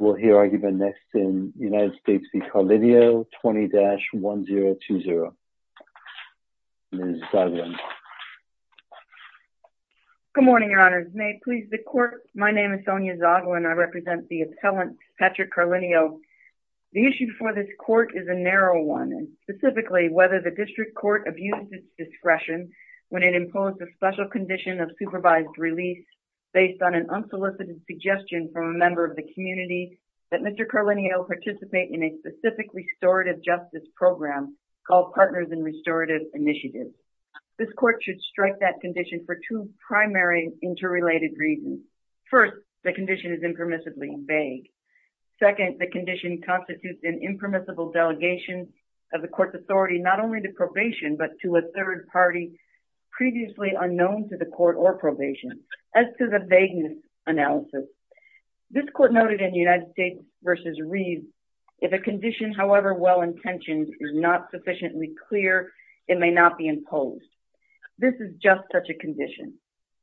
20-1020. Ms. Zoglin. Good morning, your honors. May it please the court, my name is Sonia Zoglin. I represent the appellant Patrick Carlineo. The issue for this court is a narrow one and specifically whether the district court abuses discretion when it imposed a special condition of supervised release based on an unsolicited suggestion from a member of the community that Mr. Carlineo participate in a specific restorative justice program called Partners in Restorative Initiatives. This court should strike that condition for two primary interrelated reasons. First, the condition is impermissibly vague. Second, the condition constitutes an impermissible delegation of the court's authority, not only to probation, but to a third party previously unknown to the court or probation. As to the court noted in United States v. Reeves, if a condition however well intentioned is not sufficiently clear, it may not be imposed. This is just such a condition.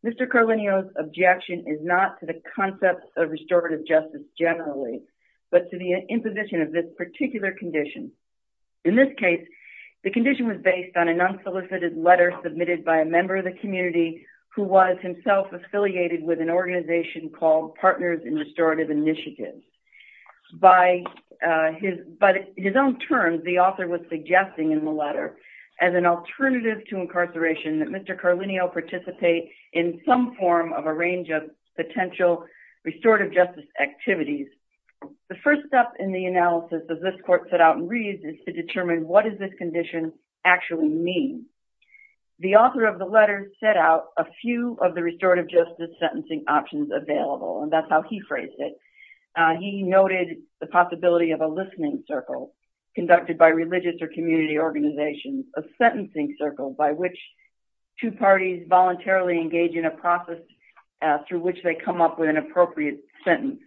Mr. Carlineo's objection is not to the concept of restorative justice generally, but to the imposition of this particular condition. In this case, the condition was based on a non-solicited letter submitted by a member of the community who was himself affiliated with an organization called Partners in Restorative Initiatives. By his own terms, the author was suggesting in the letter as an alternative to incarceration that Mr. Carlineo participate in some form of a range of potential restorative justice activities. The first step in the analysis of this court set out in Reeves is to determine what does this condition actually mean. The court noted the possibility of a listening circle conducted by religious or community organizations, a sentencing circle by which two parties voluntarily engage in a process through which they come up with an appropriate sentence,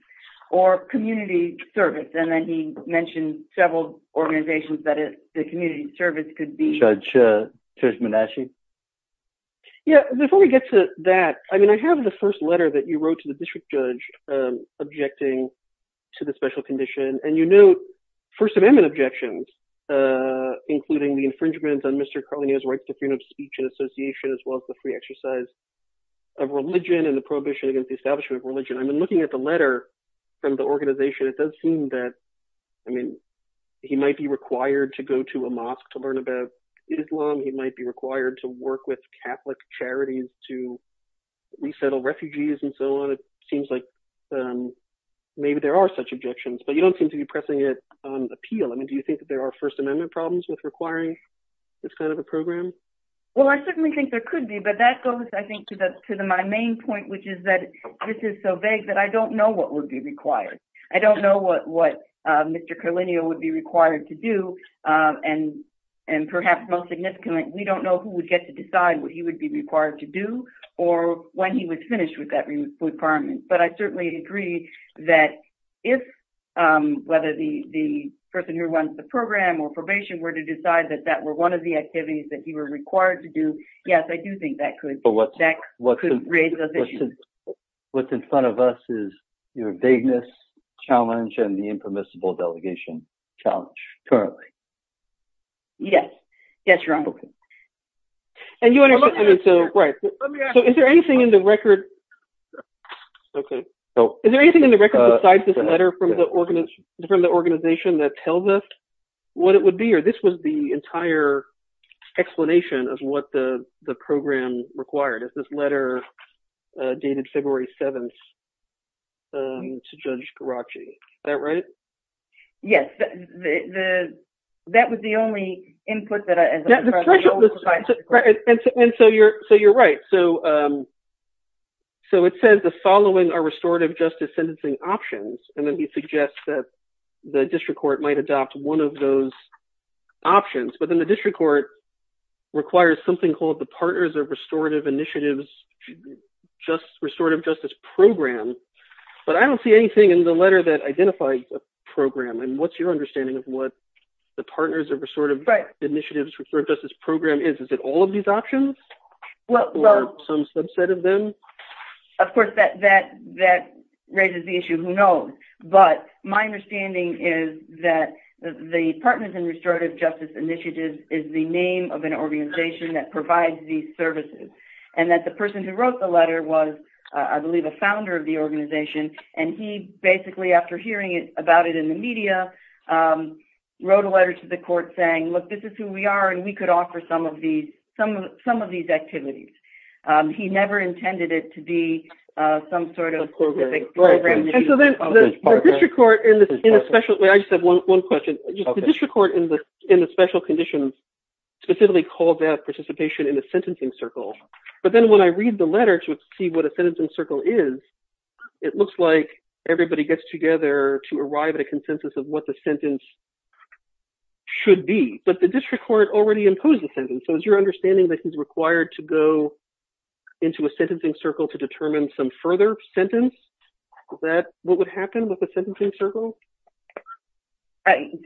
or community service. And then he mentioned several organizations that the community service could be. Before we get to that, I have the first letter that you wrote to the district judge objecting to the special condition, and you note First Amendment objections, including the infringement on Mr. Carlineo's right to freedom of speech and association, as well as the free exercise of religion and the prohibition against the establishment of religion. I've been looking at the letter from the organization. It does seem that he might be required to go to a Catholic Islam. He might be required to work with Catholic charities to resettle refugees and so on. It seems like maybe there are such objections, but you don't seem to be pressing it on appeal. I mean, do you think that there are First Amendment problems with requiring this kind of a program? Well, I certainly think there could be, but that goes, I think, to my main point, which is that this is so vague that I don't know what would be required. I don't know what Mr. Carlineo would be required to do, and perhaps most significantly, we don't know who would get to decide what he would be required to do or when he would finish with that requirement. But I certainly agree that if, whether the person who runs the program or probation were to decide that that were one of the activities that he were required to do, yes, I do think that could raise those issues. What's in front of us is your vagueness challenge and the impermissible delegation challenge currently. Yes. Yes, your Honorable. And you understand, so right. So is there anything in the record, okay. Is there anything in the record besides this letter from the organization that tells us what it would be This was the entire explanation of what the program required. This letter dated February 7th to Judge Garacci. Is that right? Yes. That was the only input that I had. And so you're right. So it says the following are restorative justice sentencing options, and then he suggests that the district court might adopt one of those options, but then the district court requires something called the Partners of Restorative Initiatives, just restorative justice program. But I don't see anything in the letter that identifies a program. And what's your understanding of what the Partners of Restorative Initiatives Restorative Justice Program is? Is it all of these options or some subset of them? Of course, that raises the issue. Who knows? But my understanding is that the Partners in Restorative Justice Initiatives is the name of an organization that provides these services. And that the person who wrote the letter was, I believe, a founder of the organization. And he basically, after hearing about it in the media, wrote a letter to the court saying, look, this is who we are, and we could offer some of these activities. He never intended it to be some sort of program. And so then the district court in a special... I just have one question. The district court in the special conditions specifically called that participation in a sentencing circle. But then when I read the letter to see what a sentencing circle is, it looks like everybody gets together to arrive at a consensus of what the sentence should be. But the district court already imposed the sentence. So is your understanding that he's required to go into a sentencing circle to determine some further sentence? Is that what would happen with a sentencing circle?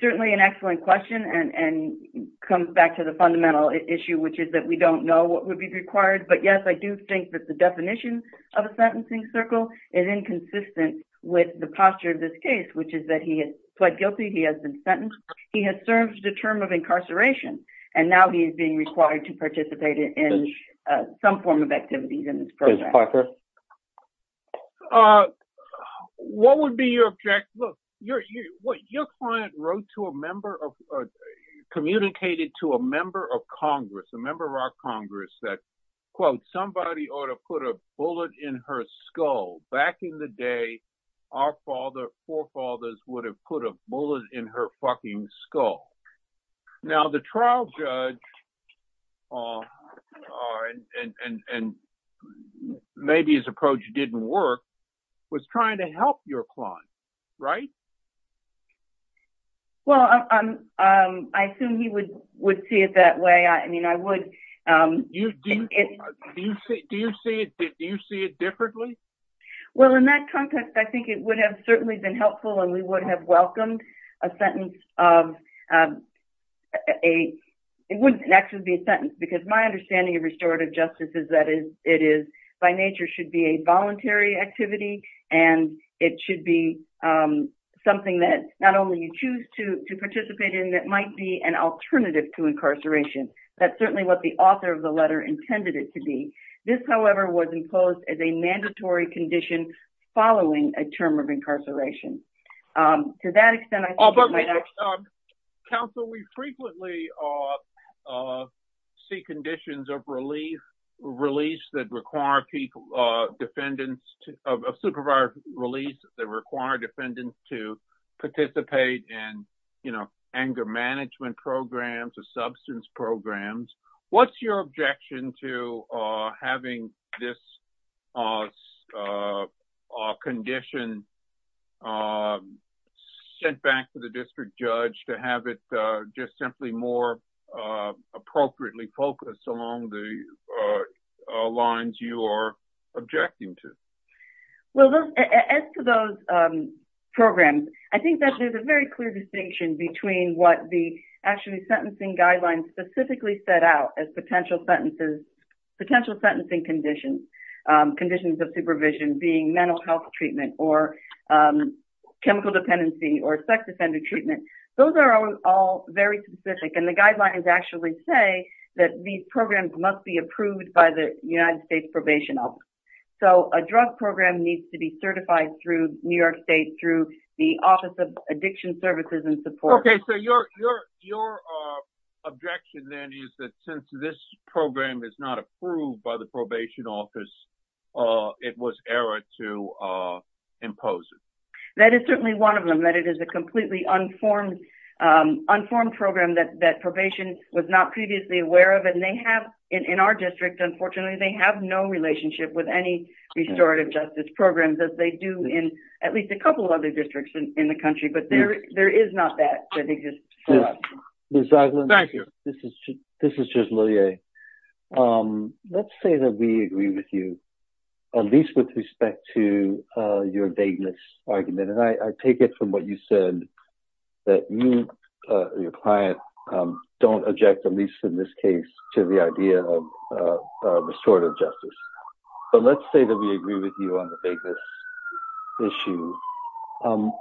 Certainly an excellent question. And it comes back to the fundamental issue, which is that we don't know what would be required. But yes, I do think that the definition of a sentencing circle is inconsistent with the posture of this case, which is that he has pled guilty, he has been sentenced, he has served a term of incarceration, and now he is being required to participate in some form of activities in this program. Judge Parker? What would be your... Look, your client wrote to a member of... communicated to a member of Congress, a member of our Congress, that, quote, somebody ought to put a bullet in her skull. Back in the day, our forefathers would have put a bullet in her fucking skull. Now, the trial judge, and maybe his approach didn't work, was trying to help your client, right? Well, I assume he would see it that way. I mean, I would... Do you see it differently? Well, in that context, I think it would have certainly been helpful, and we would have welcomed a sentence of... It wouldn't actually be a sentence, because my understanding of restorative justice is that it is, by nature, should be a voluntary activity, and it should be something that not only you choose to participate in, it might be an alternative to incarceration. That's certainly what the author of the letter intended it to be. This, however, was imposed as a mandatory condition following a term of incarceration. To that extent, I think it might... Counsel, we frequently see conditions of relief, release that require defendants... of supervisor release that require defendants to participate in anger management programs or substance abuse programs. What's your objection to having this condition sent back to the district judge to have it just simply more appropriately focused along the lines you are objecting to? Well, as to those programs, I think that there's a very clear distinction between what the sentencing guidelines specifically set out as potential sentencing conditions. Conditions of supervision being mental health treatment or chemical dependency or sex offender treatment. Those are all very specific, and the guidelines actually say that these programs must be approved by the United States Probation Office. So, a drug program needs to be certified through New York State, through the Office of Addiction Services and Support. Okay, so your objection then is that since this program is not approved by the probation office, it was error to impose it. That is certainly one of them, that it is a completely unformed program that probation was not previously aware of. And they have, in our district, unfortunately, they have no relationship with any restorative justice programs as they do in at least a couple of districts in the country. But there is not that. Ms. Zaglin, this is Judge Lillier. Let's say that we agree with you, at least with respect to your vagueness argument. And I take it from what you said that you, your client, don't object, at least in this case, to the idea of restorative justice. But let's say that we agree with you on the vagueness issue.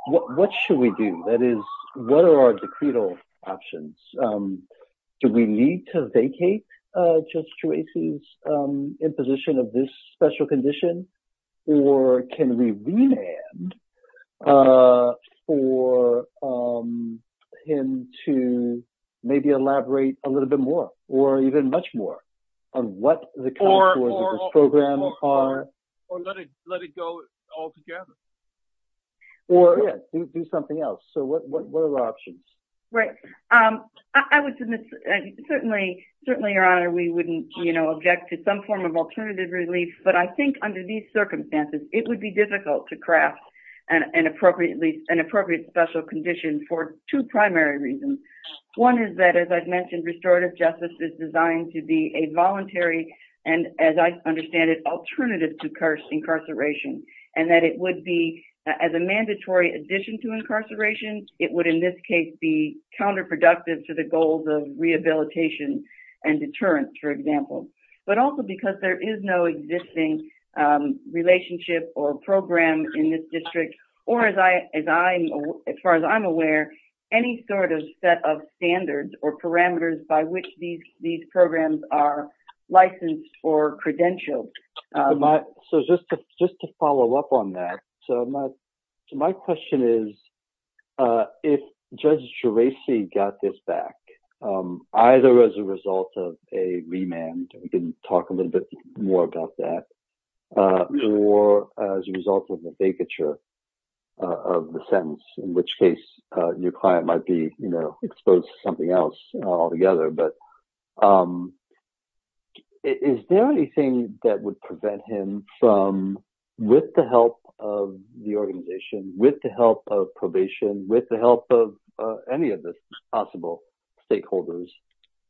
What should we do? That is, what are our decretal options? Do we need to vacate Judge Juarez's imposition of this special condition? Or can we remand for him to maybe elaborate a little bit more, or even much more, on what the contours of this program are? Or let it go altogether. Or, yeah, do something else. So what are the options? Right. I would submit, certainly, Your Honor, we wouldn't, you know, object to some form of alternative relief. But I think, under these circumstances, it would be difficult to craft an appropriate special condition for two primary reasons. One is that, as I've said, it would be a voluntary, and as I understand it, alternative to incarceration. And that it would be, as a mandatory addition to incarceration, it would, in this case, be counterproductive to the goals of rehabilitation and deterrence, for example. But also because there is no existing relationship or program in this district, or as far as I'm aware, any sort of set of standards or parameters by which these programs are licensed or credentialed. So just to follow up on that, so my question is, if Judge Juarez got this back, either as a result of a remand, we can talk a little bit more about that, or as a result of a vacature of the sentence, in which case your client might be exposed to something else altogether. But is there anything that would prevent him from, with the help of the organization, with the help of probation, with the help of any of the possible stakeholders,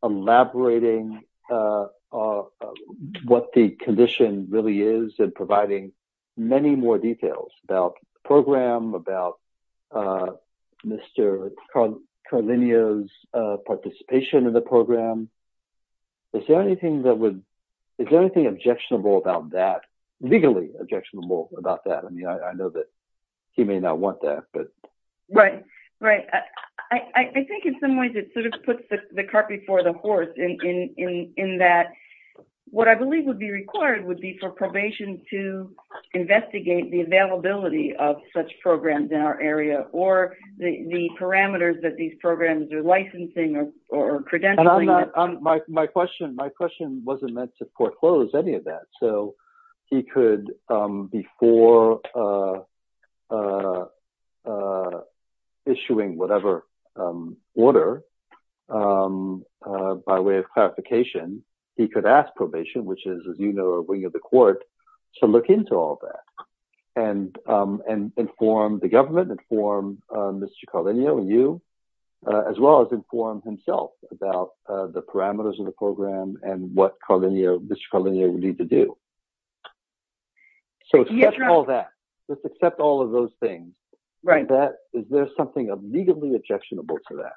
elaborating on what the condition really is and providing many more details about the program, about Mr. Carlino's participation in the program? Is there anything objectionable about that, legally objectionable about that? I mean, I know that he may not want that, but... Right, right. I think in some ways it sort of puts the cart before the horse in that what I believe would be required would be for probation to investigate the availability of such programs in our area, or the parameters that these programs are licensing or credentialing. My question wasn't meant to foreclose any of that, so he could, before issuing whatever order, by way of clarification, he could ask probation, which is, as you know, a wing of the court, to look into all that and inform the government, inform Mr. Carlino and you, as well as inform himself about the parameters of the program and what Mr. Carlino would need to do. So, let's accept all of those things. Is there something legally objectionable to that?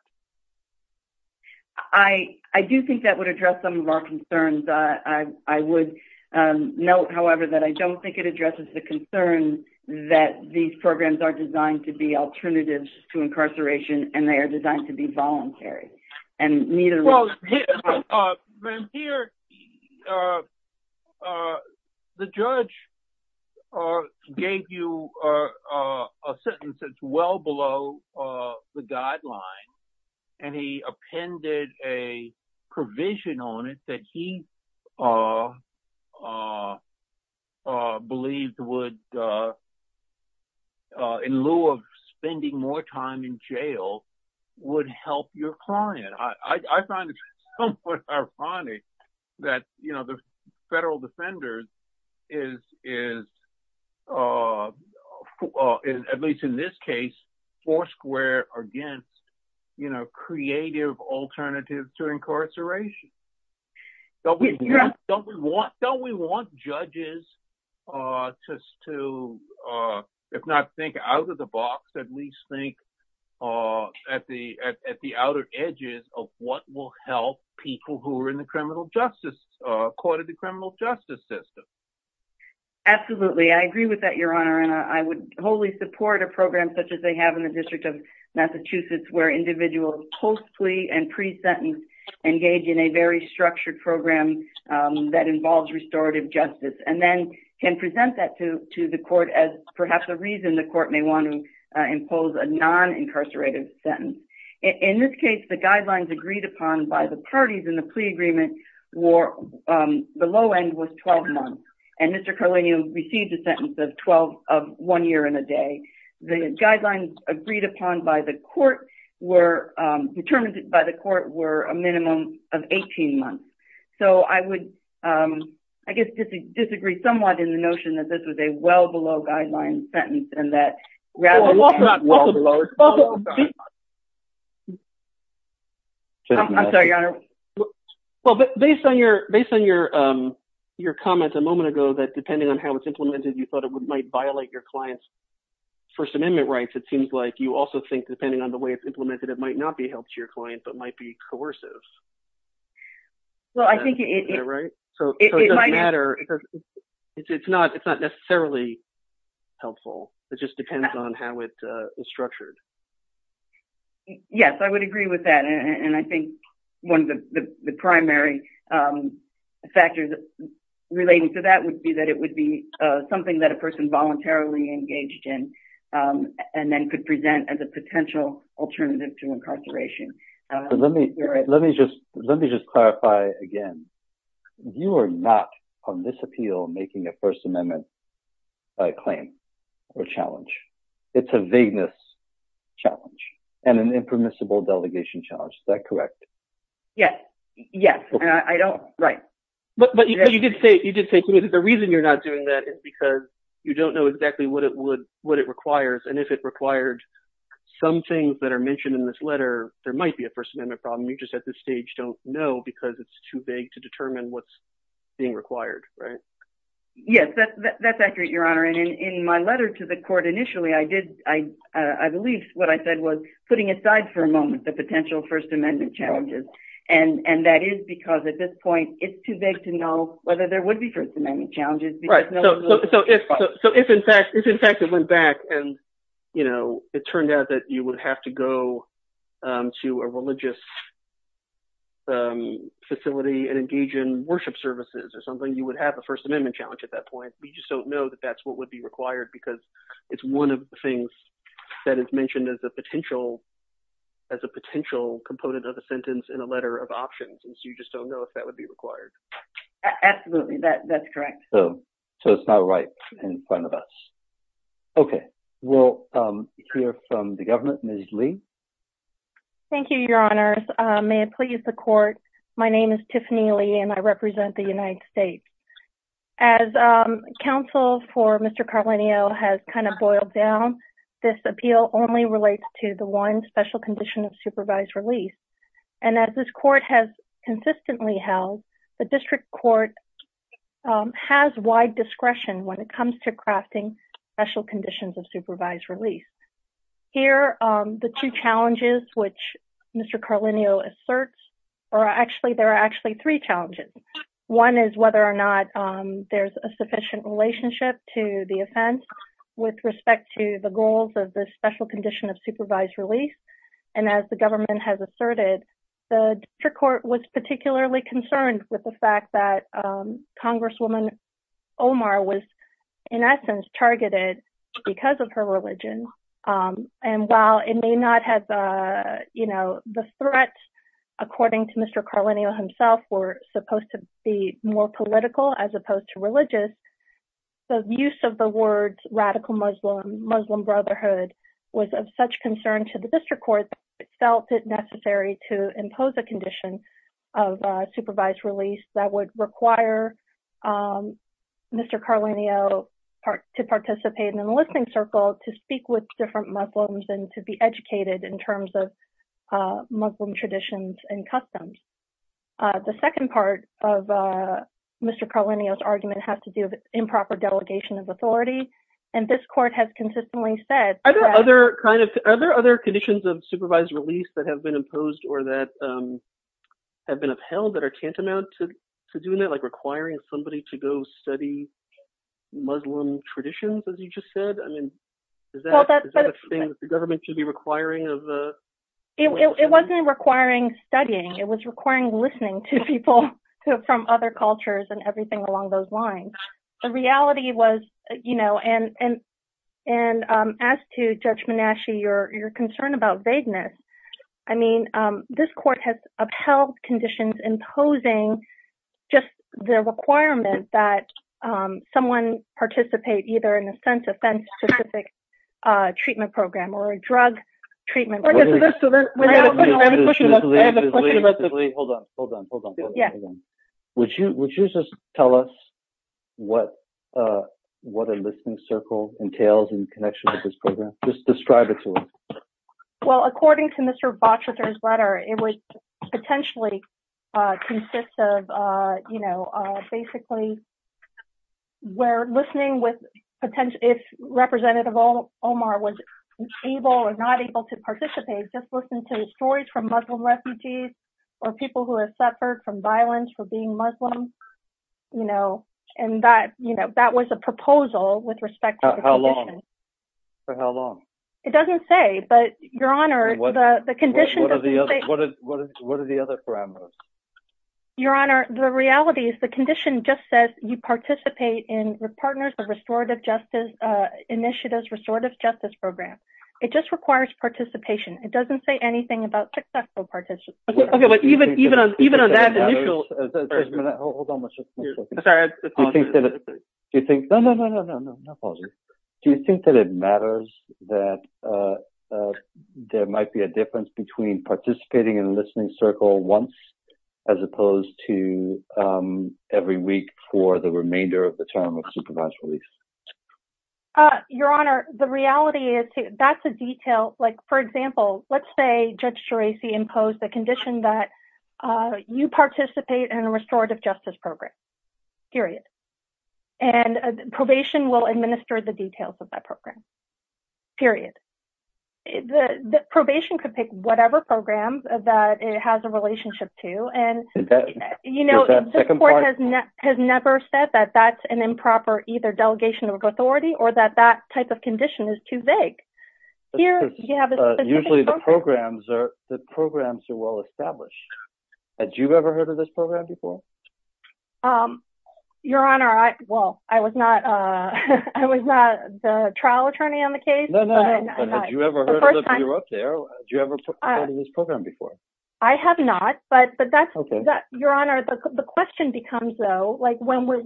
I do think that would address some of our concerns. I would note, however, that I don't think it addresses the concern that these programs are designed to be alternatives to incarceration, and they are designed to be voluntary. Well, here, the judge gave you a sentence that's well below the guideline, and he appended a provision on it that he believes would, in lieu of spending more time in jail, would help your client. I find it somewhat ironic that the Federal Defender is, at least in this case, foursquare against creative alternatives to incarceration. Don't we want judges to, if not think out of the box, at least think at the outer edges of what will help people who are in the criminal justice, court of the criminal justice system? Absolutely. I agree with that, Your Honor, and I would wholly support a program such as they have in the District of Massachusetts, where individuals post-plea and pre-sentence engage in a very structured program that involves restorative justice, and then can present that to the court as perhaps a reason the court may want to impose a non-incarcerated sentence. In this case, the guidelines agreed upon by the parties in the plea agreement were, the low end was 12 months, and Mr. Carlenio received a sentence of one year and a day. The guidelines agreed upon by the court were, determined by the court, were a minimum of 18 months. So I would, I guess, disagree somewhat in the notion that this was a well-below Based on your comment a moment ago, that depending on how it's implemented, you thought it might violate your client's First Amendment rights. It seems like you also think, depending on the way it's implemented, it might not be helpful to your client, but might be coercive. Well, I think it... Is that right? So it doesn't matter. It's not necessarily helpful. It just depends on how it is structured. Yes, I would agree with that, and I think one of the primary factors relating to that would be that it would be something that a person voluntarily engaged in, and then could present as a potential alternative to incarceration. Let me just clarify again. You are not, on this appeal, making a First Amendment claim or challenge. It's a vagueness challenge, and an impermissible delegation challenge. Is that correct? Yes. Yes, and I don't... Right. But you did say to me that the reason you're not doing that is because you don't know exactly what it requires, and if it required some things that are mentioned in this letter, there might be a First Amendment problem. You just, at this stage, don't know because it's too vague to determine what's being required, right? Yes, that's accurate, Your Honor, and in my letter to the court initially, I did... I believe what I said was putting aside for a moment the potential First Amendment challenges, and that is because, at this point, it's too vague to know whether there would be First Amendment challenges. Right, so if, in fact, it went back and, you know, it turned out that you would have to go to a religious facility and engage in worship services or something, you would have a First Amendment challenge at that point. We just don't know that that's what would be required because it's one of the things that is mentioned as a potential component of the sentence in a letter of options, and so you just don't know if that would be required. Absolutely, that's correct. So it's not right in front of us. Okay, we'll hear from the government. Ms. Lee? Thank you, Your Honors. May it please the court, my name is Tiffany Lee, and I represent the United States. As counsel for Mr. Carlenio has kind of boiled down, this appeal only relates to the one special condition of supervised release, and as this court has consistently held, the district court has wide discretion when it comes to crafting special conditions of supervised release. Here, the two challenges which Mr. Carlenio asserts are actually, there are actually three challenges. One is whether or not there's a sufficient relationship to the offense with respect to the goals of the special condition of supervised release, and as the government has asserted, the district court was particularly concerned with the fact that Congresswoman Omar was, in essence, targeted because of her religion, and while it may not have, you know, the threat, according to Mr. Carlenio himself, were supposed to be more political as opposed to religious, the use of the words radical Muslim, Muslim felt it necessary to impose a condition of supervised release that would require Mr. Carlenio to participate in the listening circle to speak with different Muslims and to be educated in terms of Muslim traditions and customs. The second part of Mr. Carlenio's argument has to do with improper delegation of authority, and this court has consistently said that... Are there other conditions of supervised release that have been imposed or that have been upheld that are tantamount to doing that, like requiring somebody to go study Muslim traditions, as you just said? I mean, is that a thing that the government should be requiring of... It wasn't requiring studying. It was requiring listening to people from other cultures and As to Judge Menashe, your concern about vagueness, I mean, this court has upheld conditions imposing just the requirement that someone participate either in a sense-offense-specific treatment program or a drug treatment program. Hold on, hold on, hold on. Would you just tell us what a listening circle entails in connection with this program? Just describe it to us. Well, according to Mr. Botcherter's letter, it would potentially consist of, you know, basically where listening with potential... If Representative Omar was able or not able to participate, just listen to stories from Muslim refugees or people who have suffered from violence for being Muslim, you know, and that, you know, that was a proposal with respect to the condition. How long? For how long? It doesn't say, but, Your Honor, the condition... What are the other parameters? Your Honor, the reality is the condition just says you participate in your partner's restorative justice initiatives, restorative justice program. It just requires participation. It doesn't say anything about successful participation. Okay, but even on that initial... Hold on one second. Do you think... No, no, no, no, no, no. Do you think that it matters that there might be a difference between participating in a listening circle once as opposed to every week for the remainder of the term of supervised release? Your Honor, the reality is that's a detail. Like, for example, let's say Judge Geraci imposed the condition that you participate in a restorative justice program, period, and probation will administer the details of that program, period. The probation could pick whatever programs that it has a relationship to, and, you know, the court has never said that that's an improper either delegation of authority or that that type of condition is too vague. Usually the programs are well-established. Had you ever heard of this program before? Your Honor, well, I was not the trial attorney on the case. No, no, no, but had you ever heard of it if you were up there? Had you ever heard of this program before? I have not, but that's... Your Honor, the question becomes, though, like when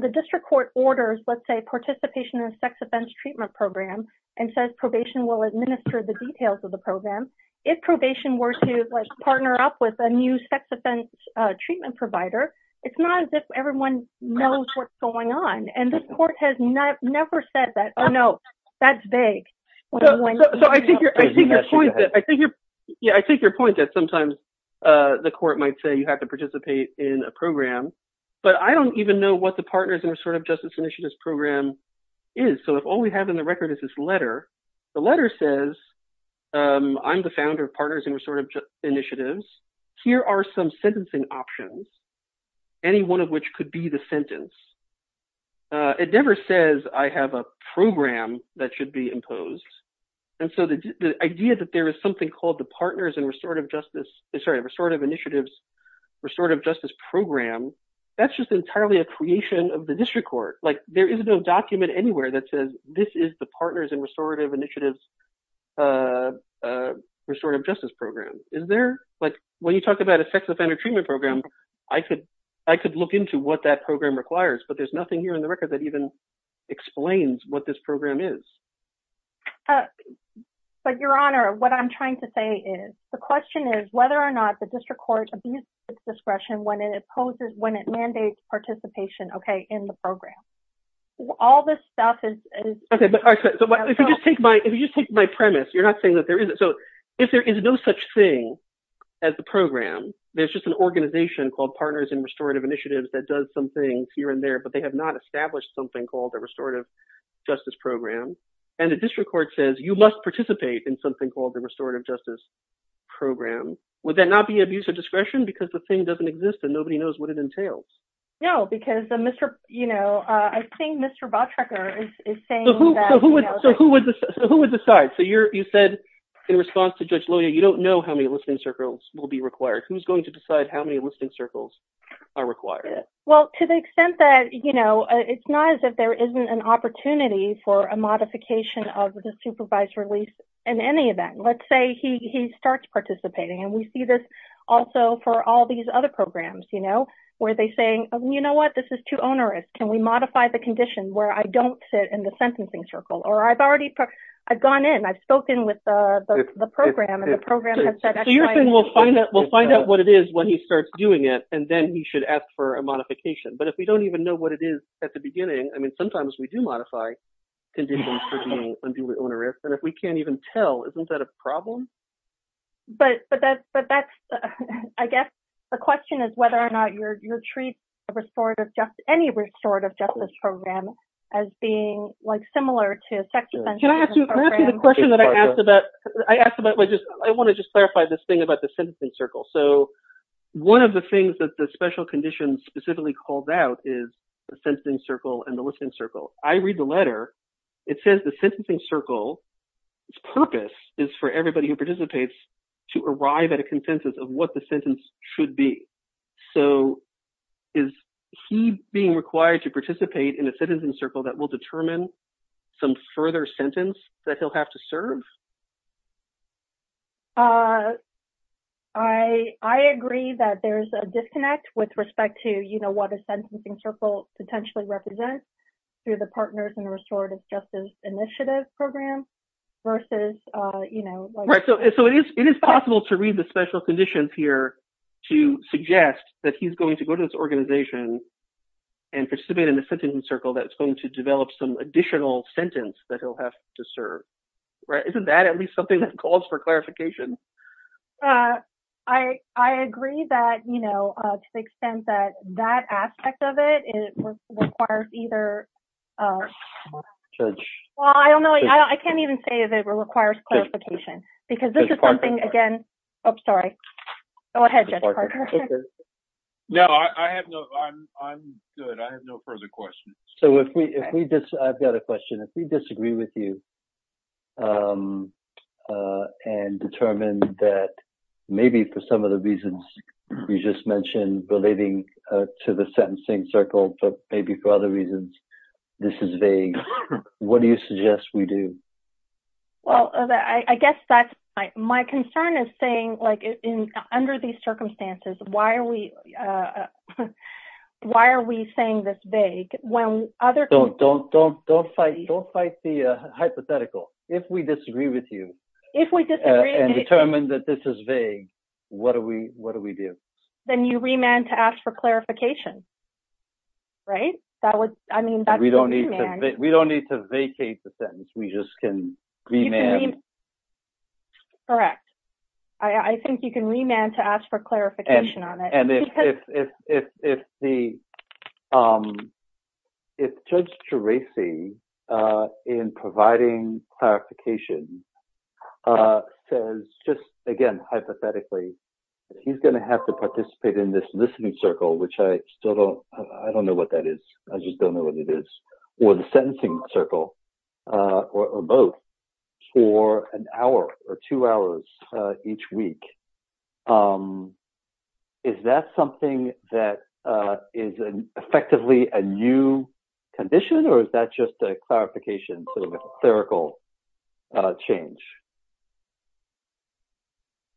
the district court orders, let's say, participation in a sex offense treatment program and says probation will administer the details of the program, if probation were to partner up with a new sex offense treatment provider, it's not as if everyone knows what's going on, and the court has never said that, oh, no, that's vague. So I think your point that sometimes the court might say you have to participate in a program, but I don't even know what the Partners in Restorative Justice Initiatives program is. So if all we have in the record is this letter, the letter says I'm the founder of Partners in Restorative Initiatives. Here are some sentencing options, any one of which could be the sentence. It never says I have a program that should be imposed. And so the idea that there is something called the Partners in Restorative Justice... That's just entirely a creation of the district court. Like there is no document anywhere that says this is the Partners in Restorative Justice program. Is there? Like when you talk about a sex offender treatment program, I could look into what that program requires, but there's nothing here in the record that even explains what this program is. But, Your Honor, what I'm trying to say is the question is whether or not the district court abuses its discretion when it mandates participation in the program. All this stuff is... Okay, but if you just take my premise, you're not saying that there isn't. So if there is no such thing as the program, there's just an organization called Partners in Restorative Initiatives that does some things here and there, but they have not established something called the Restorative Justice program. And the district court says you must participate in something called the Restorative Justice program. Would that not be abuse of discretion? Because the thing doesn't exist and nobody knows what it entails. No, because I think Mr. Bottrecker is saying that... So who would decide? So you said in response to Judge Loya, you don't know how many enlisting circles will be required. Who's going to decide how many enlisting circles are required? Well, to the extent that it's not as if there isn't an opportunity for a modification of the supervised release in any event. Let's say he starts participating, and we see this also for all these other programs where they're saying, you know what? This is too onerous. Can we modify the condition where I don't sit in the sentencing circle? Or I've gone in, I've spoken with the program and the program has said... So you're saying we'll find out what it is when he starts doing it, and then he should ask for a modification. But if we don't even know what it is at the beginning, I mean, sometimes we do modify conditions for being unduly onerous. And if we can't even tell, isn't that a problem? But that's... I guess the question is whether or not you're treating any restorative justice program as being similar to a sex offense program. Can I ask you the question that I asked about? I want to just clarify this thing about the sentencing circle. So one of the things that the special conditions specifically called out is the sentencing circle and the enlisting circle. I read the letter. It says the sentencing circle's purpose is for everybody who participates to arrive at a consensus of what the sentence should be. So is he being required to participate in a sentencing circle that will determine some further sentence that he'll have to serve? I agree that there's a disconnect with respect to what a sentencing circle potentially represents through the Partners in Restorative Justice Initiative program versus... Right. So it is possible to read the special conditions here to suggest that he's going to go to this organization and participate in a sentencing circle that's going to develop some additional sentence that he'll have to serve. Isn't that at least something that calls for clarification? I agree that, you know, to the extent that that aspect of it requires either... Well, I don't know. I can't even say that it requires clarification because this is something, again... Judge Parker. Oh, sorry. Go ahead, Judge Parker. No, I have no... I'm good. I have no further questions. So if we... I've got a question. If we disagree with you and determine that maybe for some of the reasons we just mentioned relating to the sentencing circle, but maybe for other reasons, this is vague, what do you suggest we do? Well, I guess that's... My concern is saying, like, under these circumstances, why are we saying this vague when other... Don't fight the hypothetical. If we disagree with you and determine that this is vague, what do we do? Then you remand to ask for clarification. Right? That would... I mean, that's a remand. We don't need to vacate the sentence. We just can remand. You can remand. Correct. I think you can remand to ask for clarification on it. And if the... Because... If Judge Tresi, in providing clarification, says just, again, hypothetically, he's going to have to participate in this listening circle, which I still don't... I don't know what that is. I just don't know what it is. Or the sentencing circle, or both, for an hour or two hours each week, is that something that is effectively a new condition? Or is that just a clarification, sort of a theoretical change?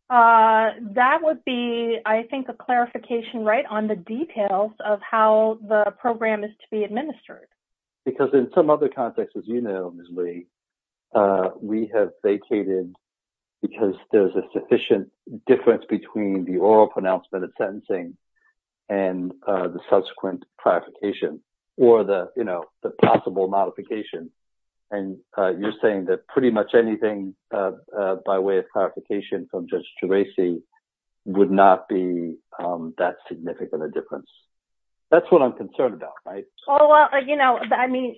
That would be, I think, a clarification, right, on the details of how the program is to be administered. Because in some other contexts, as you know, Ms. Lee, we have vacated because there's a sufficient difference between the oral pronouncement of sentencing and the subsequent clarification, or the possible modification. And you're saying that pretty much anything, by way of clarification from Judge Tresi, would not be that significant a difference. That's what I'm concerned about, right? Well, you know, I mean,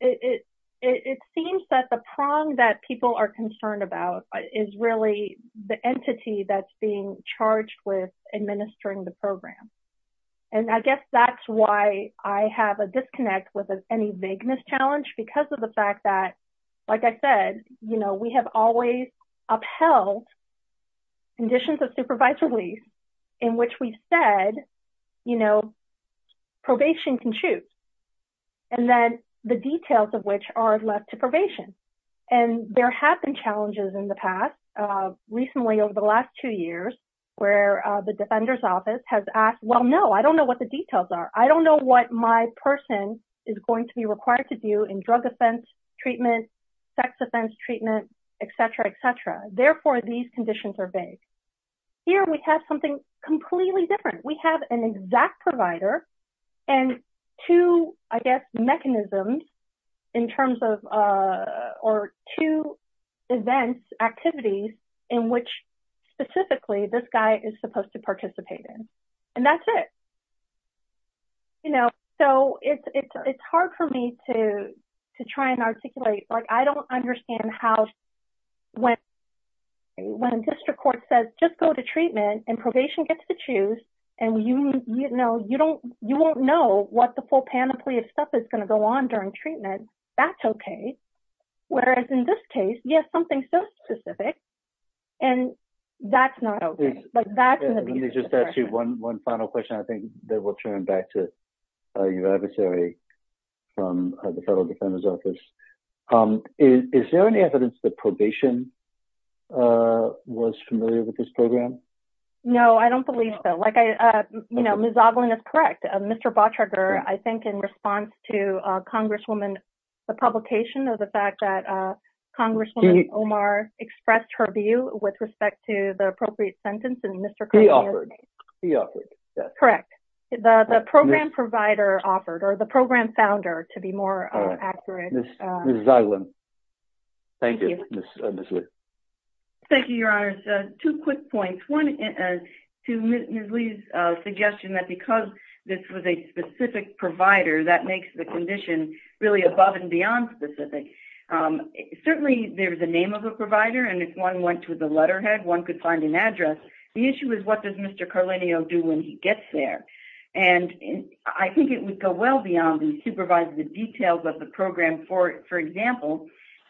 it seems that the prong that people are concerned about is really the entity that's being charged with administering the program. And I guess that's why I have a disconnect with any vagueness challenge, because of the fact that, like I said, you know, we have always upheld conditions of supervised release in which we've said, you know, probation can choose. And then the details of which are left to probation. And there have been challenges in the past, recently over the last two years, where the well, no, I don't know what the details are. I don't know what my person is going to be required to do in drug offense treatment, sex offense treatment, et cetera, et cetera. Therefore, these conditions are vague. Here, we have something completely different. We have an exact provider and two, I guess, mechanisms in terms of, or two events, activities, in which specifically this guy is supposed to participate in. And that's it. You know, so it's hard for me to try and articulate. Like, I don't understand how, when a district court says, just go to treatment and probation gets to choose, and you won't know what the full panoply of stuff is going to go on during treatment, that's okay. Whereas in this case, you have something so specific, and that's not okay. Let me just ask you one final question. I think then we'll turn back to your adversary from the Federal Defender's Office. Is there any evidence that probation was familiar with this program? No, I don't believe so. Like, you know, Ms. Ogling is correct. Mr. Botriger, I think in response to Congresswoman, the publication of the fact that Congresswoman Omar expressed her view with respect to the appropriate sentence, and Mr. He offered. He offered, yes. Correct. The program provider offered, or the program founder, to be more accurate. Ms. Ogling. Thank you, Ms. Lee. Thank you, Your Honors. Two quick points. One, to Ms. Lee's suggestion that because this was a specific provider, that makes the condition really above and beyond specific. Certainly, there's a name of a provider, and if one went to the letterhead, one could find an address. The issue is, what does Mr. Carlino do when he gets there? And I think it would go well beyond and supervise the details of the program. For example,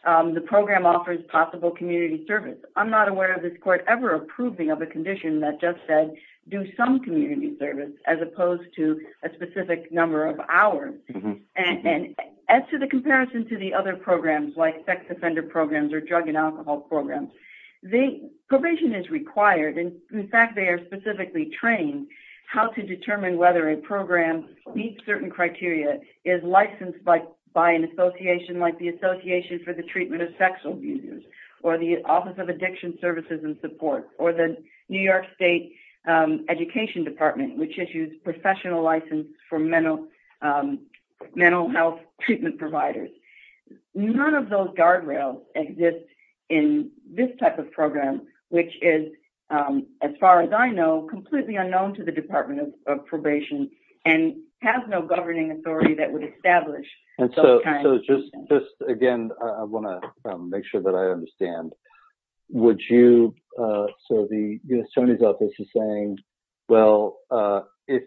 the program offers possible community service. I'm not aware of this Court ever approving of a condition that just said, do some community service, as opposed to a specific number of hours. As to the comparison to the other programs, like sex offender programs or drug and alcohol programs, the provision is required. In fact, they are specifically trained how to determine whether a program meets certain criteria, is licensed by an association, like the Association for the Treatment of Sex Abusers, or the Office of Addiction Services and Support, or the New York State Education Department, which issues professional licenses for mental health treatment providers. None of those guardrails exist in this type of program, which is, as far as I know, completely unknown to the Department of Probation, and has no governing authority that would establish those kinds of things. Again, I want to make sure that I understand. The U.S. Attorney's Office is saying, well, if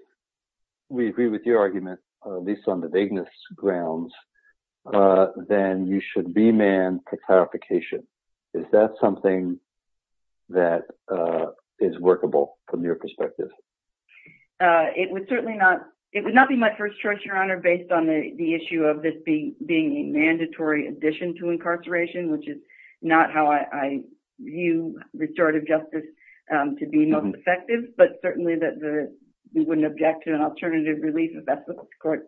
we agree with your argument, at least on the vagueness grounds, then you should be manned for clarification. Is that something that is workable from your perspective? It would not be my first choice, Your Honor, based on the issue of this being a mandatory addition to incarceration, which is not how I view restorative justice to be most effective, but certainly that we wouldn't object to an alternative release if that's the court's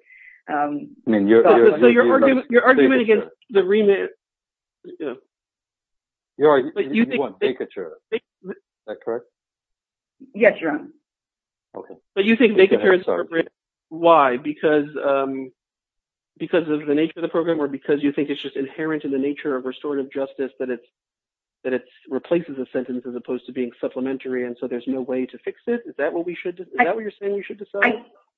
thought. So your argument against the remit... You want vacature, is that correct? Yes, Your Honor. Okay. But you think vacature is appropriate, why? Because of the nature of the program or because you think it's just inherent in the nature of restorative justice that it replaces a sentence as opposed to being supplementary and so there's no way to fix it? Is that what you're saying you should decide?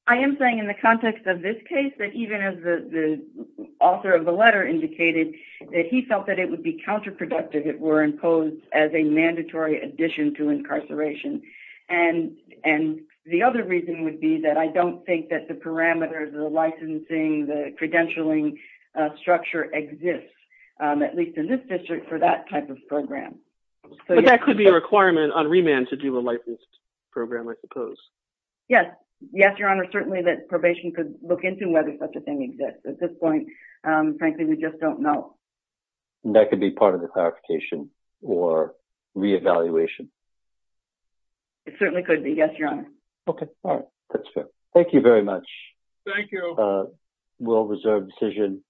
I am saying in the context of this case that even as the author of the letter indicated that he felt that it would be counterproductive if it were imposed as a mandatory addition to incarceration. And the other reason would be that I don't think that the parameters, the licensing, the credentialing structure exists, at least in this district, for that type of program. But that could be a requirement on remand to do a licensed program, I suppose. Yes. Yes, Your Honor. Certainly that probation could look into whether such a thing exists. At this point, frankly, we just don't know. That could be part of the clarification or re-evaluation. It certainly could be. Yes, Your Honor. Okay. All right. That's fair. Thank you very much. Thank you. We'll reserve decision.